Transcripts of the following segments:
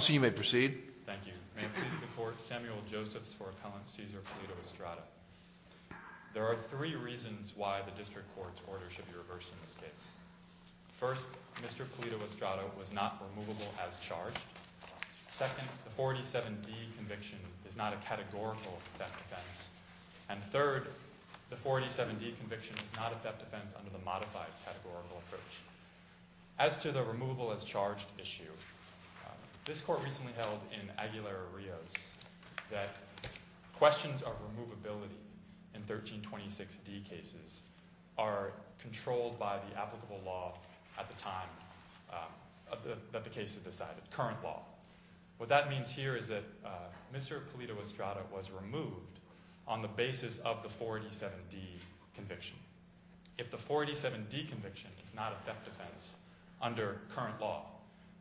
Cesar Pulido-Estrada, Jr. May it please the Court, Samuel Josephs for Appellant Cesar Pulido-Estrada. There are three reasons why the District Court's order should be reversed in this case. First, Mr. Pulido-Estrada was not removable as charged. Second, the 487d conviction is not a categorical theft defense. And third, the 487d conviction is not a theft defense under the modified categorical approach. As to the removable as charged issue, this Court recently held in Aguilera-Rios that questions of the time that the case was decided, current law. What that means here is that Mr. Pulido-Estrada was removed on the basis of the 487d conviction. If the 487d conviction is not a theft defense under current law,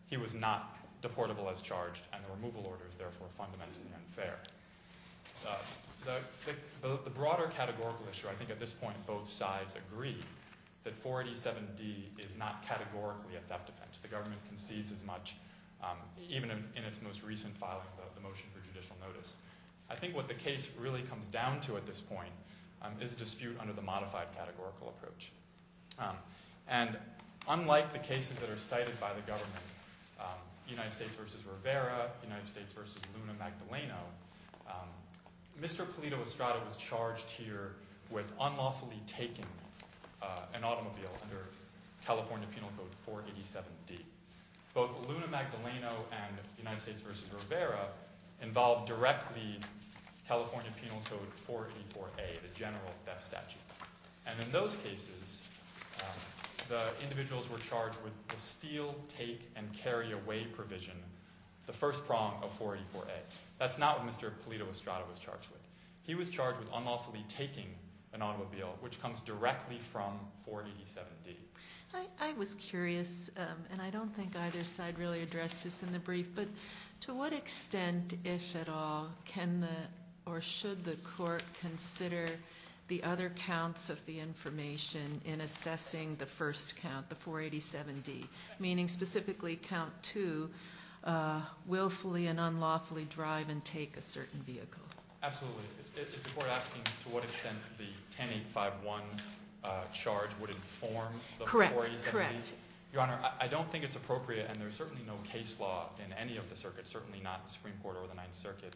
he was not deportable as charged and the removal order is therefore fundamentally unfair. The broader categorical issue, I think at this point both sides agree that 487d is not categorically a theft defense. The government concedes as much, even in its most recent filing, the motion for judicial notice. I think what the case really comes down to at this point is a dispute under the modified categorical approach. And unlike the cases that are cited by the government, United States v. Rivera, United States v. Luna Magdaleno, Mr. Pulido-Estrada was charged here with unlawfully taking an automobile under California Penal Code 487d. Both Luna Magdaleno and United States v. Rivera involved directly California Penal Code 484a, the general theft statute. And in those cases, the individuals were charged with the steal, take, and carry away provision, the first prong of 484a. That's not what Mr. Pulido-Estrada was charged with. He was charged with unlawfully taking an automobile, which comes directly from 487d. I was curious, and I don't think either side really addressed this in the brief, but to what extent, if at all, can the, or should the court consider the other counts of the information in assessing the first count, the 487d, meaning specifically count two, willfully and unlawfully drive and take a certain vehicle? Absolutely. Is the court asking to what extent the 10851 charge would inform the employees? Correct, correct. Your Honor, I don't think it's appropriate, and there's certainly no case law in any of the circuits, certainly not the Supreme Court or the Ninth Circuit,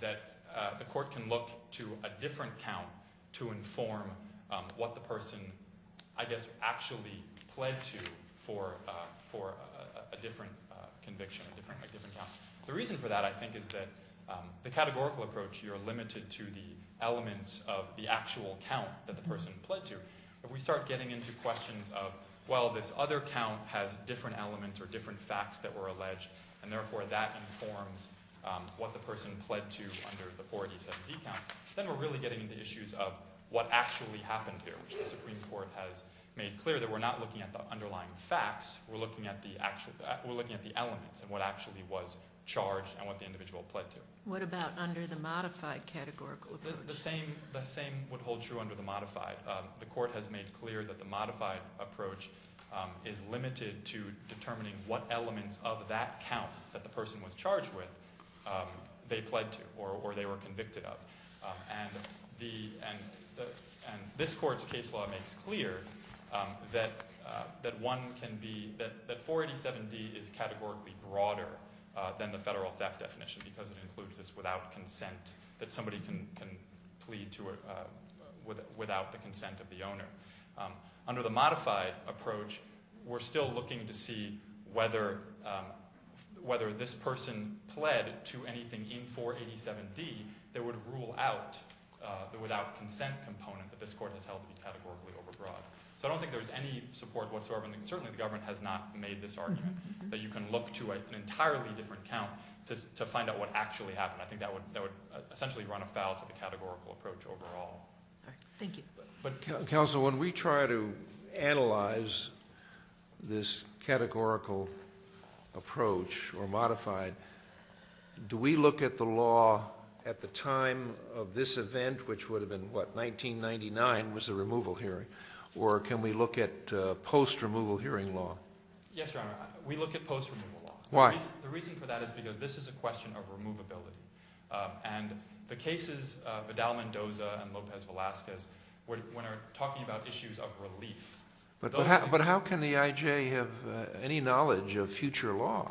that the court can look to a different count to inform what the person, I guess, actually pled to for a different conviction, a different count. The reason for that, I think, is that the categorical approach, you're limited to the elements of the actual count that the person pled to. If we start getting into questions of, well, this other count has different elements or different facts that were alleged, and therefore that informs what the person pled to under the 487d count, then we're really getting into issues of what actually happened here, which the Supreme Court has made clear that we're not looking at the underlying facts. We're looking at the elements and what actually was charged and what the individual pled to. What about under the modified categorical approach? The same would hold true under the modified. The court has made clear that the modified approach is limited to determining what elements of that count that the person was charged with they pled to or they were convicted of. And this court's case law makes clear that 487d is categorically broader than the federal theft definition because it includes this without consent that somebody can plead to without the consent of the owner. Under the modified approach, we're still looking to see whether this person pled to anything in 487d that would rule out the without consent component that this court has held to be categorically overbroad. So I don't think there's any support whatsoever, and certainly the government has not made this argument, that you can look to an entirely different count to find out what actually happened. I think that would essentially run afoul to the categorical approach overall. Thank you. Counsel, when we try to analyze this categorical approach or modified, do we look at the law at the time of this event, which would have been, what, 1999 was the removal hearing, or can we look at post-removal hearing law? Yes, Your Honor, we look at post-removal law. Why? The reason for that is because this is a question of removability. And the cases Vidal-Mendoza and Lopez-Velasquez, when we're talking about issues of relief. But how can the I.J. have any knowledge of future law?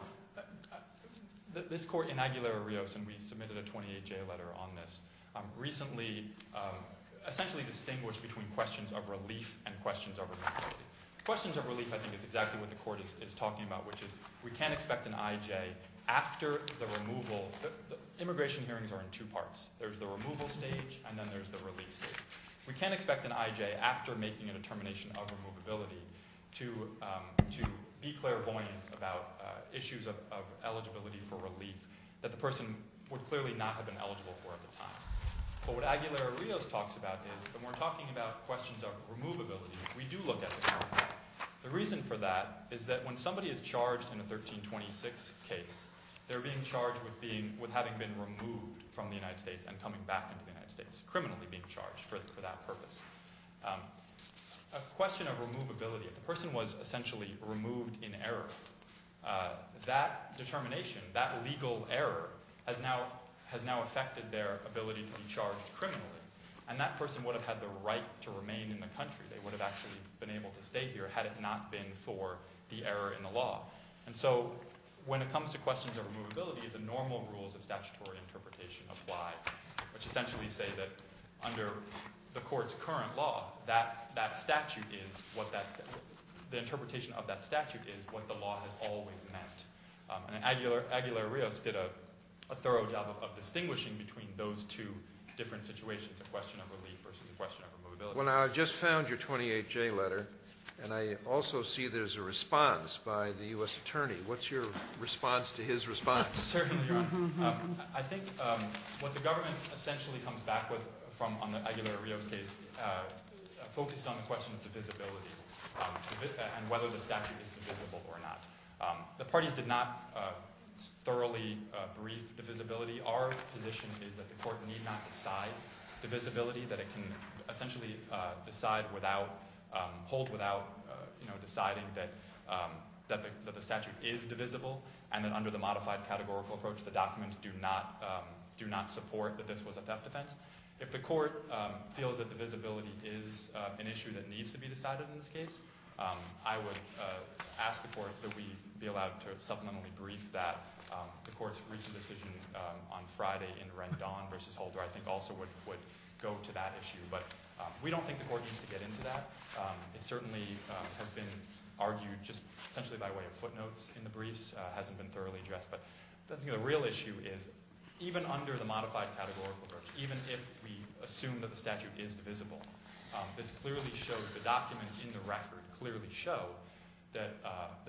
This court in Aguilar-Rios, and we submitted a 28-J letter on this, recently essentially distinguished between questions of relief and questions of removal. Questions of relief, I think, is exactly what the court is talking about, which is we can't expect an I.J. after the removal. Immigration hearings are in two parts. There's the removal stage, and then there's the relief stage. We can't expect an I.J. after making a determination of removability to be clairvoyant about issues of eligibility for relief that the person would clearly not have been eligible for at the time. But what Aguilar-Rios talks about is when we're talking about questions of removability, we do look at it. The reason for that is that when somebody is charged in a 1326 case, they're being charged with having been removed from the United States and coming back into the United States, criminally being charged for that purpose. A question of removability, if the person was essentially removed in error, that determination, that legal error has now affected their ability to be charged criminally, and that person would have had the right to remain in the country. They would have actually been able to stay here had it not been for the error in the law. And so when it comes to questions of removability, the normal rules of statutory interpretation apply, which essentially say that under the Court's current law, that statute is what that statute – the interpretation of that statute is what the law has always meant. And Aguilar-Rios did a thorough job of distinguishing between those two different situations, a question of relief versus a question of removability. Well, now, I just found your 28J letter, and I also see there's a response by the U.S. attorney. What's your response to his response? Certainly, Your Honor. I think what the government essentially comes back with on the Aguilar-Rios case focuses on the question of divisibility and whether the statute is divisible or not. The parties did not thoroughly brief divisibility. Our position is that the Court need not decide divisibility, that it can essentially decide without – hold without deciding that the statute is divisible and that under the modified categorical approach, the documents do not support that this was a theft offense. If the Court feels that divisibility is an issue that needs to be decided in this case, I would ask the Court that we be allowed to supplementally brief that. The Court's recent decision on Friday in Rendon v. Holder, I think, also would go to that issue. But we don't think the Court needs to get into that. It certainly has been argued just essentially by way of footnotes in the briefs. It hasn't been thoroughly addressed. But the real issue is even under the modified categorical approach, even if we assume that the statute is divisible, this clearly shows – the documents in the record clearly show that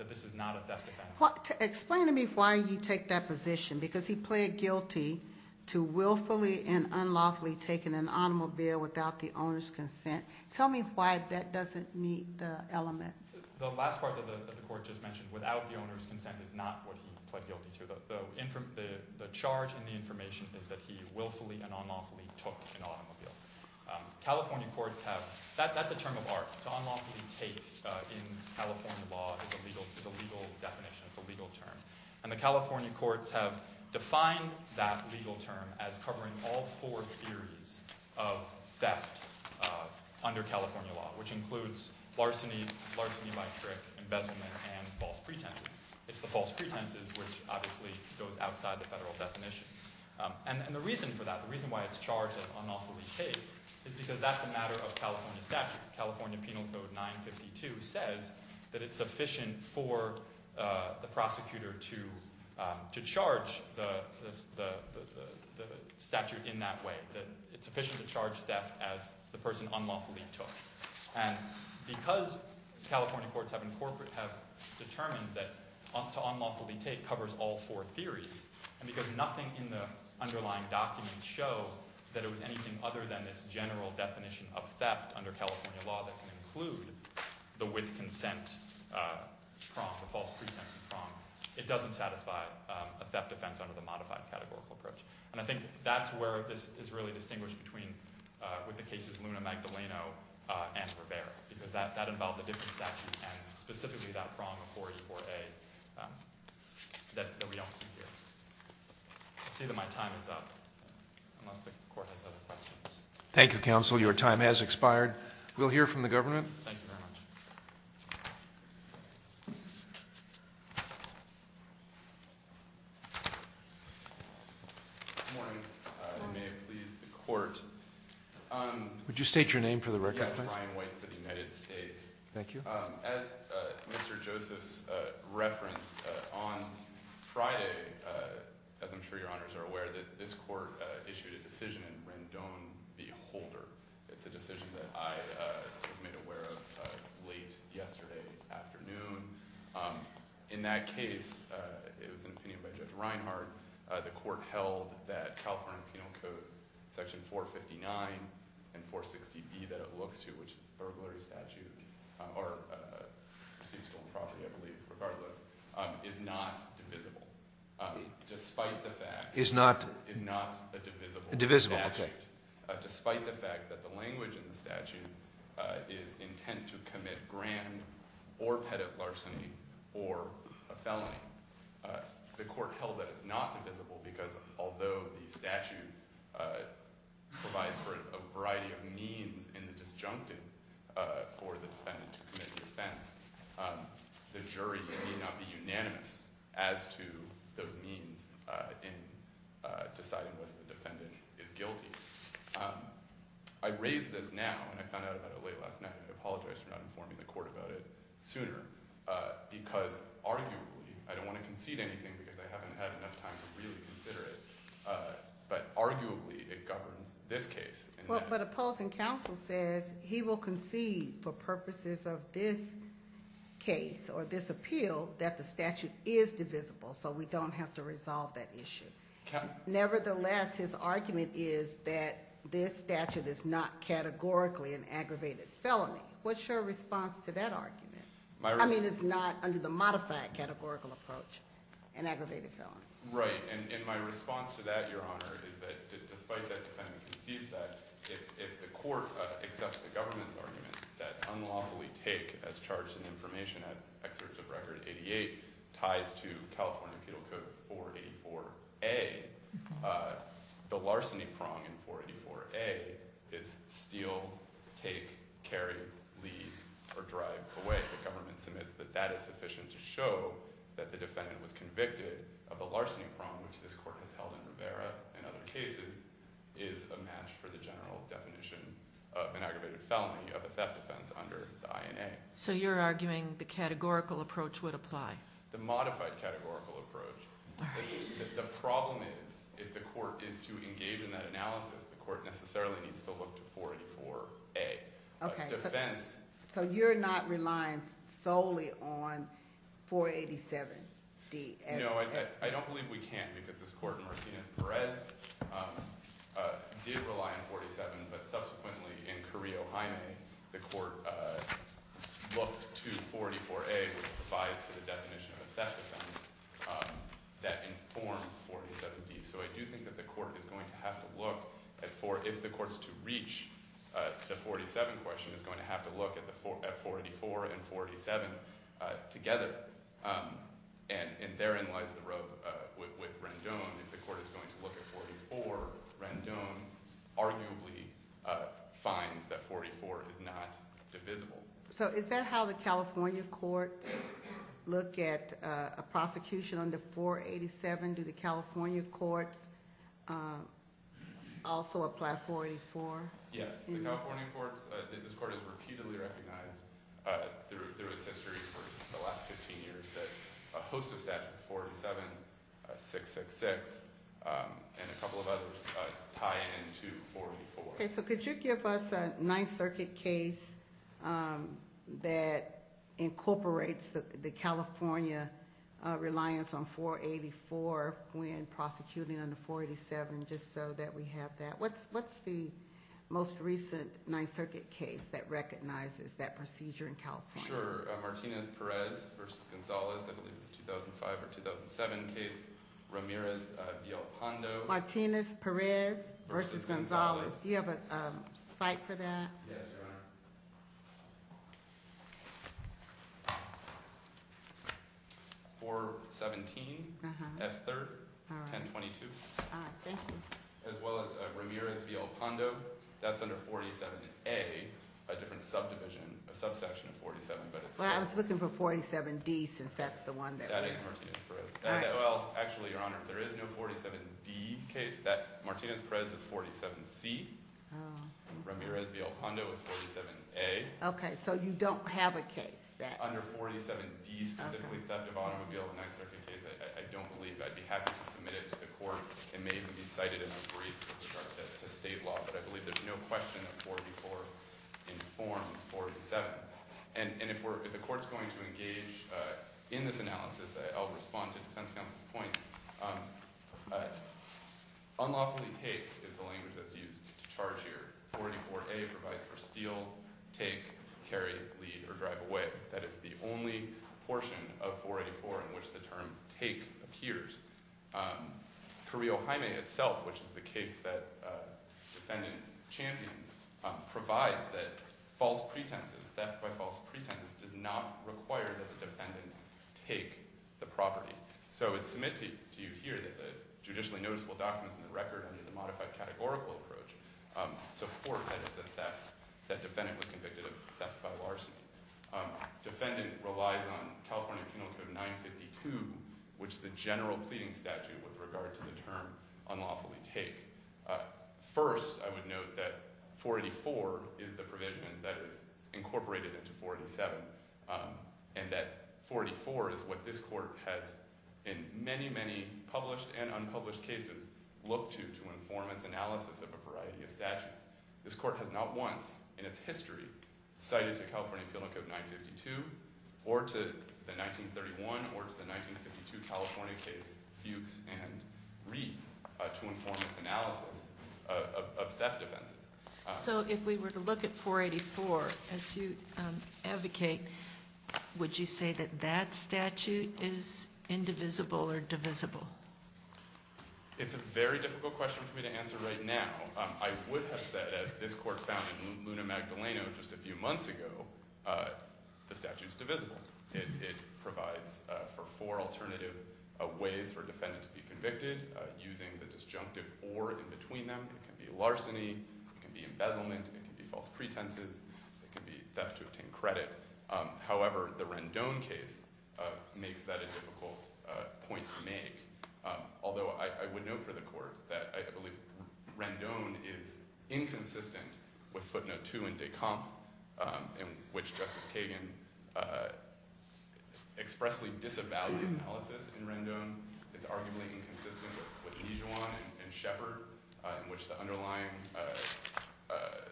this is not a theft offense. Explain to me why you take that position, because he pled guilty to willfully and unlawfully taking an automobile without the owner's consent. Tell me why that doesn't meet the elements. The last part that the Court just mentioned, without the owner's consent, is not what he pled guilty to. The charge in the information is that he willfully and unlawfully took an automobile. California courts have – that's a term of art. To unlawfully take in California law is a legal definition, it's a legal term. And the California courts have defined that legal term as covering all four theories of theft under California law, which includes larceny, larceny by trick, embezzlement, and false pretenses. It's the false pretenses which obviously goes outside the federal definition. And the reason for that, the reason why it's charged as unlawfully take is because that's a matter of California statute. California Penal Code 952 says that it's sufficient for the prosecutor to charge the statute in that way, that it's sufficient to charge theft as the person unlawfully took. And because California courts have determined that to unlawfully take covers all four theories, and because nothing in the underlying documents show that it was anything other than this general definition of theft under California law that can include the with-consent prong, the false pretense prong, it doesn't satisfy a theft offense under the modified categorical approach. And I think that's where this is really distinguished between – with the cases Luna-Magdaleno and Rivera, because that involved a different statute and specifically that prong of 484A that we don't see here. I'll say that my time is up, unless the court has other questions. Thank you, counsel. Your time has expired. We'll hear from the government. Thank you very much. Good morning. Good morning. May it please the court. Would you state your name for the record, please? Brian White for the United States. Thank you. As Mr. Joseph referenced, on Friday, as I'm sure your honors are aware, that this court issued a decision in Rendon v. Holder. It's a decision that I was made aware of late yesterday afternoon. In that case, it was an opinion by Judge Reinhart. The court held that California Penal Code Section 459 and 460B that it looks to, which is a burglary statute, or a perceived stolen property, I believe, regardless, is not divisible. Despite the fact – Is not – Is not a divisible statute. A divisible, okay. Despite the fact that the language in the statute is intent to commit grand or pettit larceny or a felony, the court held that it's not divisible because although the statute provides for a variety of means in the disjunctive for the defendant to commit the offense, the jury may not be unanimous as to those means in deciding whether the defendant is guilty. I raise this now, and I found out about it late last night, and I apologize for not informing the court about it sooner, because arguably, I don't want to concede anything because I haven't had enough time to really consider it, but arguably, it governs this case. But opposing counsel says he will concede for purposes of this case or this appeal that the statute is divisible, so we don't have to resolve that issue. Nevertheless, his argument is that this statute is not categorically an aggravated felony. What's your response to that argument? I mean, it's not under the modified categorical approach an aggravated felony. Right, and my response to that, Your Honor, is that despite that the defendant concedes that, if the court accepts the government's argument that unlawfully take as charged in the information at Excerpt of Record 88 ties to California Penal Code 484A, the larceny prong in 484A is steal, take, carry, leave, or drive away. The government submits that that is sufficient to show that the defendant was convicted of the larceny prong, which this court has held in Rivera and other cases, is a match for the general definition of an aggravated felony, of a theft offense under the INA. So you're arguing the categorical approach would apply? The modified categorical approach. Right. The problem is, if the court is to engage in that analysis, the court necessarily needs to look to 484A. Okay, so you're not reliant solely on 487D as- No, I don't believe we can, because this court in Martinez-Perez did rely on 487, but subsequently in Carrillo-Jaime, the court looked to 484A, which provides for the definition of a theft offense, that informs 487D. So I do think that the court is going to have to look, if the court is to reach the 487 question, is going to have to look at 484 and 487 together. And therein lies the rub with Rendon. If the court is going to look at 484, Rendon arguably finds that 484 is not divisible. So is that how the California courts look at a prosecution under 487? Do the California courts also apply 484? Yes, the California courts, this court has repeatedly recognized through its history for the last 15 years that a host of statutes, 487, 666, and a couple of others tie into 484. Okay, so could you give us a Ninth Circuit case that incorporates the California reliance on 484 when prosecuting under 487, just so that we have that? What's the most recent Ninth Circuit case that recognizes that procedure in California? Sure, Martinez-Perez v. Gonzalez, I believe it's a 2005 or 2007 case, Ramirez-Villalpando. Martinez-Perez v. Gonzalez, do you have a cite for that? Yes, Your Honor. 417, F3rd, 1022. All right, thank you. As well as Ramirez-Villalpando. That's under 47A, a different subdivision, a subsection of 47, but it's- Well, I was looking for 47D, since that's the one that- That is Martinez-Perez. All right. Well, actually, Your Honor, there is no 47D case. Martinez-Perez is 47C. Ramirez-Villalpando is 47A. Okay, so you don't have a case that- Under 47D, specifically theft of automobile, the Ninth Circuit case, I don't believe. I'd be happy to submit it to the court. It may even be cited in a brief with regard to state law, but I believe there's no question that 484 informs 487. And if the court's going to engage in this analysis, I'll respond to defense counsel's point. Unlawfully take is the language that's used to charge here. 484A provides for steal, take, carry, lead, or drive away. That is the only portion of 484 in which the term take appears. Carrillo-Jaime itself, which is the case that defendant champions, provides that false pretenses, theft by false pretenses, does not require that the defendant take the property. So it's submitted to you here that the judicially noticeable documents in the record under the modified categorical approach support that it's a theft, that defendant was convicted of theft by larceny. Defendant relies on California Penal Code 952, which is a general pleading statute with regard to the term unlawfully take. First, I would note that 484 is the provision that is incorporated into 487, and that 484 is what this court has, in many, many published and unpublished cases, looked to to inform its analysis of a variety of statutes. In fact, this court has not once in its history cited to California Penal Code 952 or to the 1931 or to the 1952 California case Fuchs and Reed to inform its analysis of theft offenses. So if we were to look at 484, as you advocate, would you say that that statute is indivisible or divisible? It's a very difficult question for me to answer right now. I would have said, as this court found in Luna Magdaleno just a few months ago, the statute's divisible. It provides for four alternative ways for a defendant to be convicted using the disjunctive or in between them. It can be larceny, it can be embezzlement, it can be false pretenses, it can be theft to obtain credit. However, the Rendon case makes that a difficult point to make. Although I would note for the court that I believe Rendon is inconsistent with footnote two and de comp in which Justice Kagan expressly disavowed the analysis in Rendon. It's arguably inconsistent with Nijuan and Shepard in which the underlying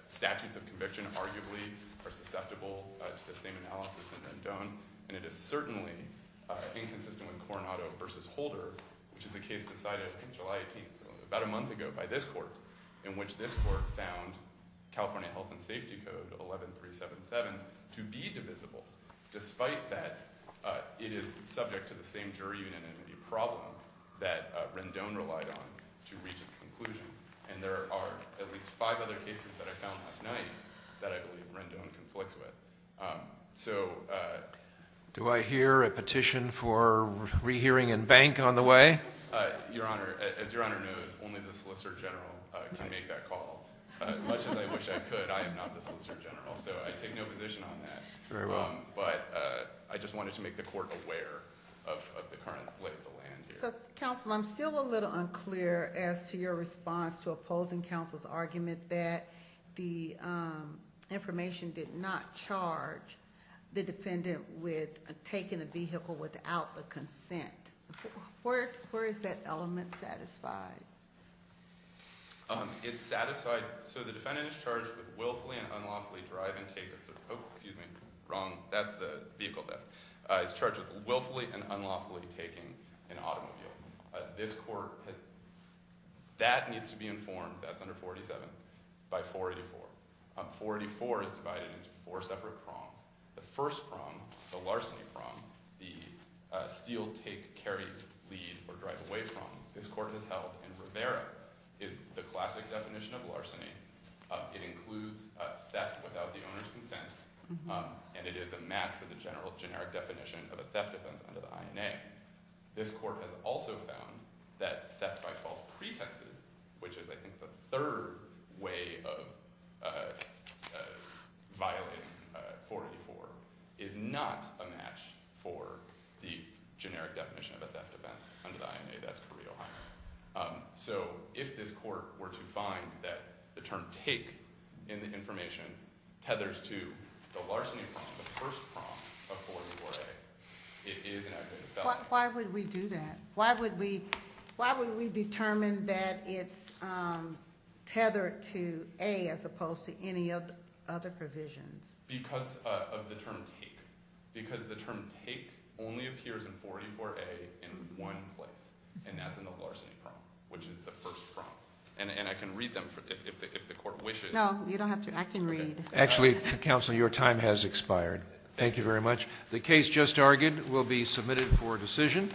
statutes of conviction arguably are susceptible to the same analysis in Rendon. And it is certainly inconsistent with Coronado versus Holder, which is a case decided on July 18th, about a month ago by this court, in which this court found California Health and Safety Code 11377 to be divisible. Despite that, it is subject to the same jury unit in the problem that Rendon relied on to reach its conclusion. And there are at least five other cases that I found last night that I believe Rendon conflicts with. So- Do I hear a petition for rehearing and bank on the way? Your Honor, as Your Honor knows, only the Solicitor General can make that call. As much as I wish I could, I am not the Solicitor General, so I take no position on that. Very well. But I just wanted to make the court aware of the current lay of the land here. So, counsel, I'm still a little unclear as to your response to opposing counsel's argument that the information did not charge the defendant with taking a vehicle without the consent. Where is that element satisfied? It's satisfied-so the defendant is charged with willfully and unlawfully driving-oh, excuse me, wrong. That's the vehicle theft. It's charged with willfully and unlawfully taking an automobile. This court-that needs to be informed-that's under 487-by 484. 484 is divided into four separate prongs. The first prong, the larceny prong, the steal, take, carry, lead, or drive away prong, this court has held. And Rivera is the classic definition of larceny. It includes theft without the owner's consent. And it is a match for the general generic definition of a theft offense under the INA. This court has also found that theft by false pretenses, which is, I think, the third way of violating 484, is not a match for the generic definition of a theft offense under the INA. That's Carrillo-Hyman. So if this court were to find that the term take in the information tethers to the larceny prong, the first prong of 484A, it is an aggravated felony. Why would we do that? Why would we determine that it's tethered to A as opposed to any of the other provisions? Because of the term take. Because the term take only appears in 484A in one place, and that's in the larceny prong, which is the first prong. And I can read them if the court wishes. No, you don't have to. I can read. Actually, Counsel, your time has expired. Thank you very much. The case just argued will be submitted for decision.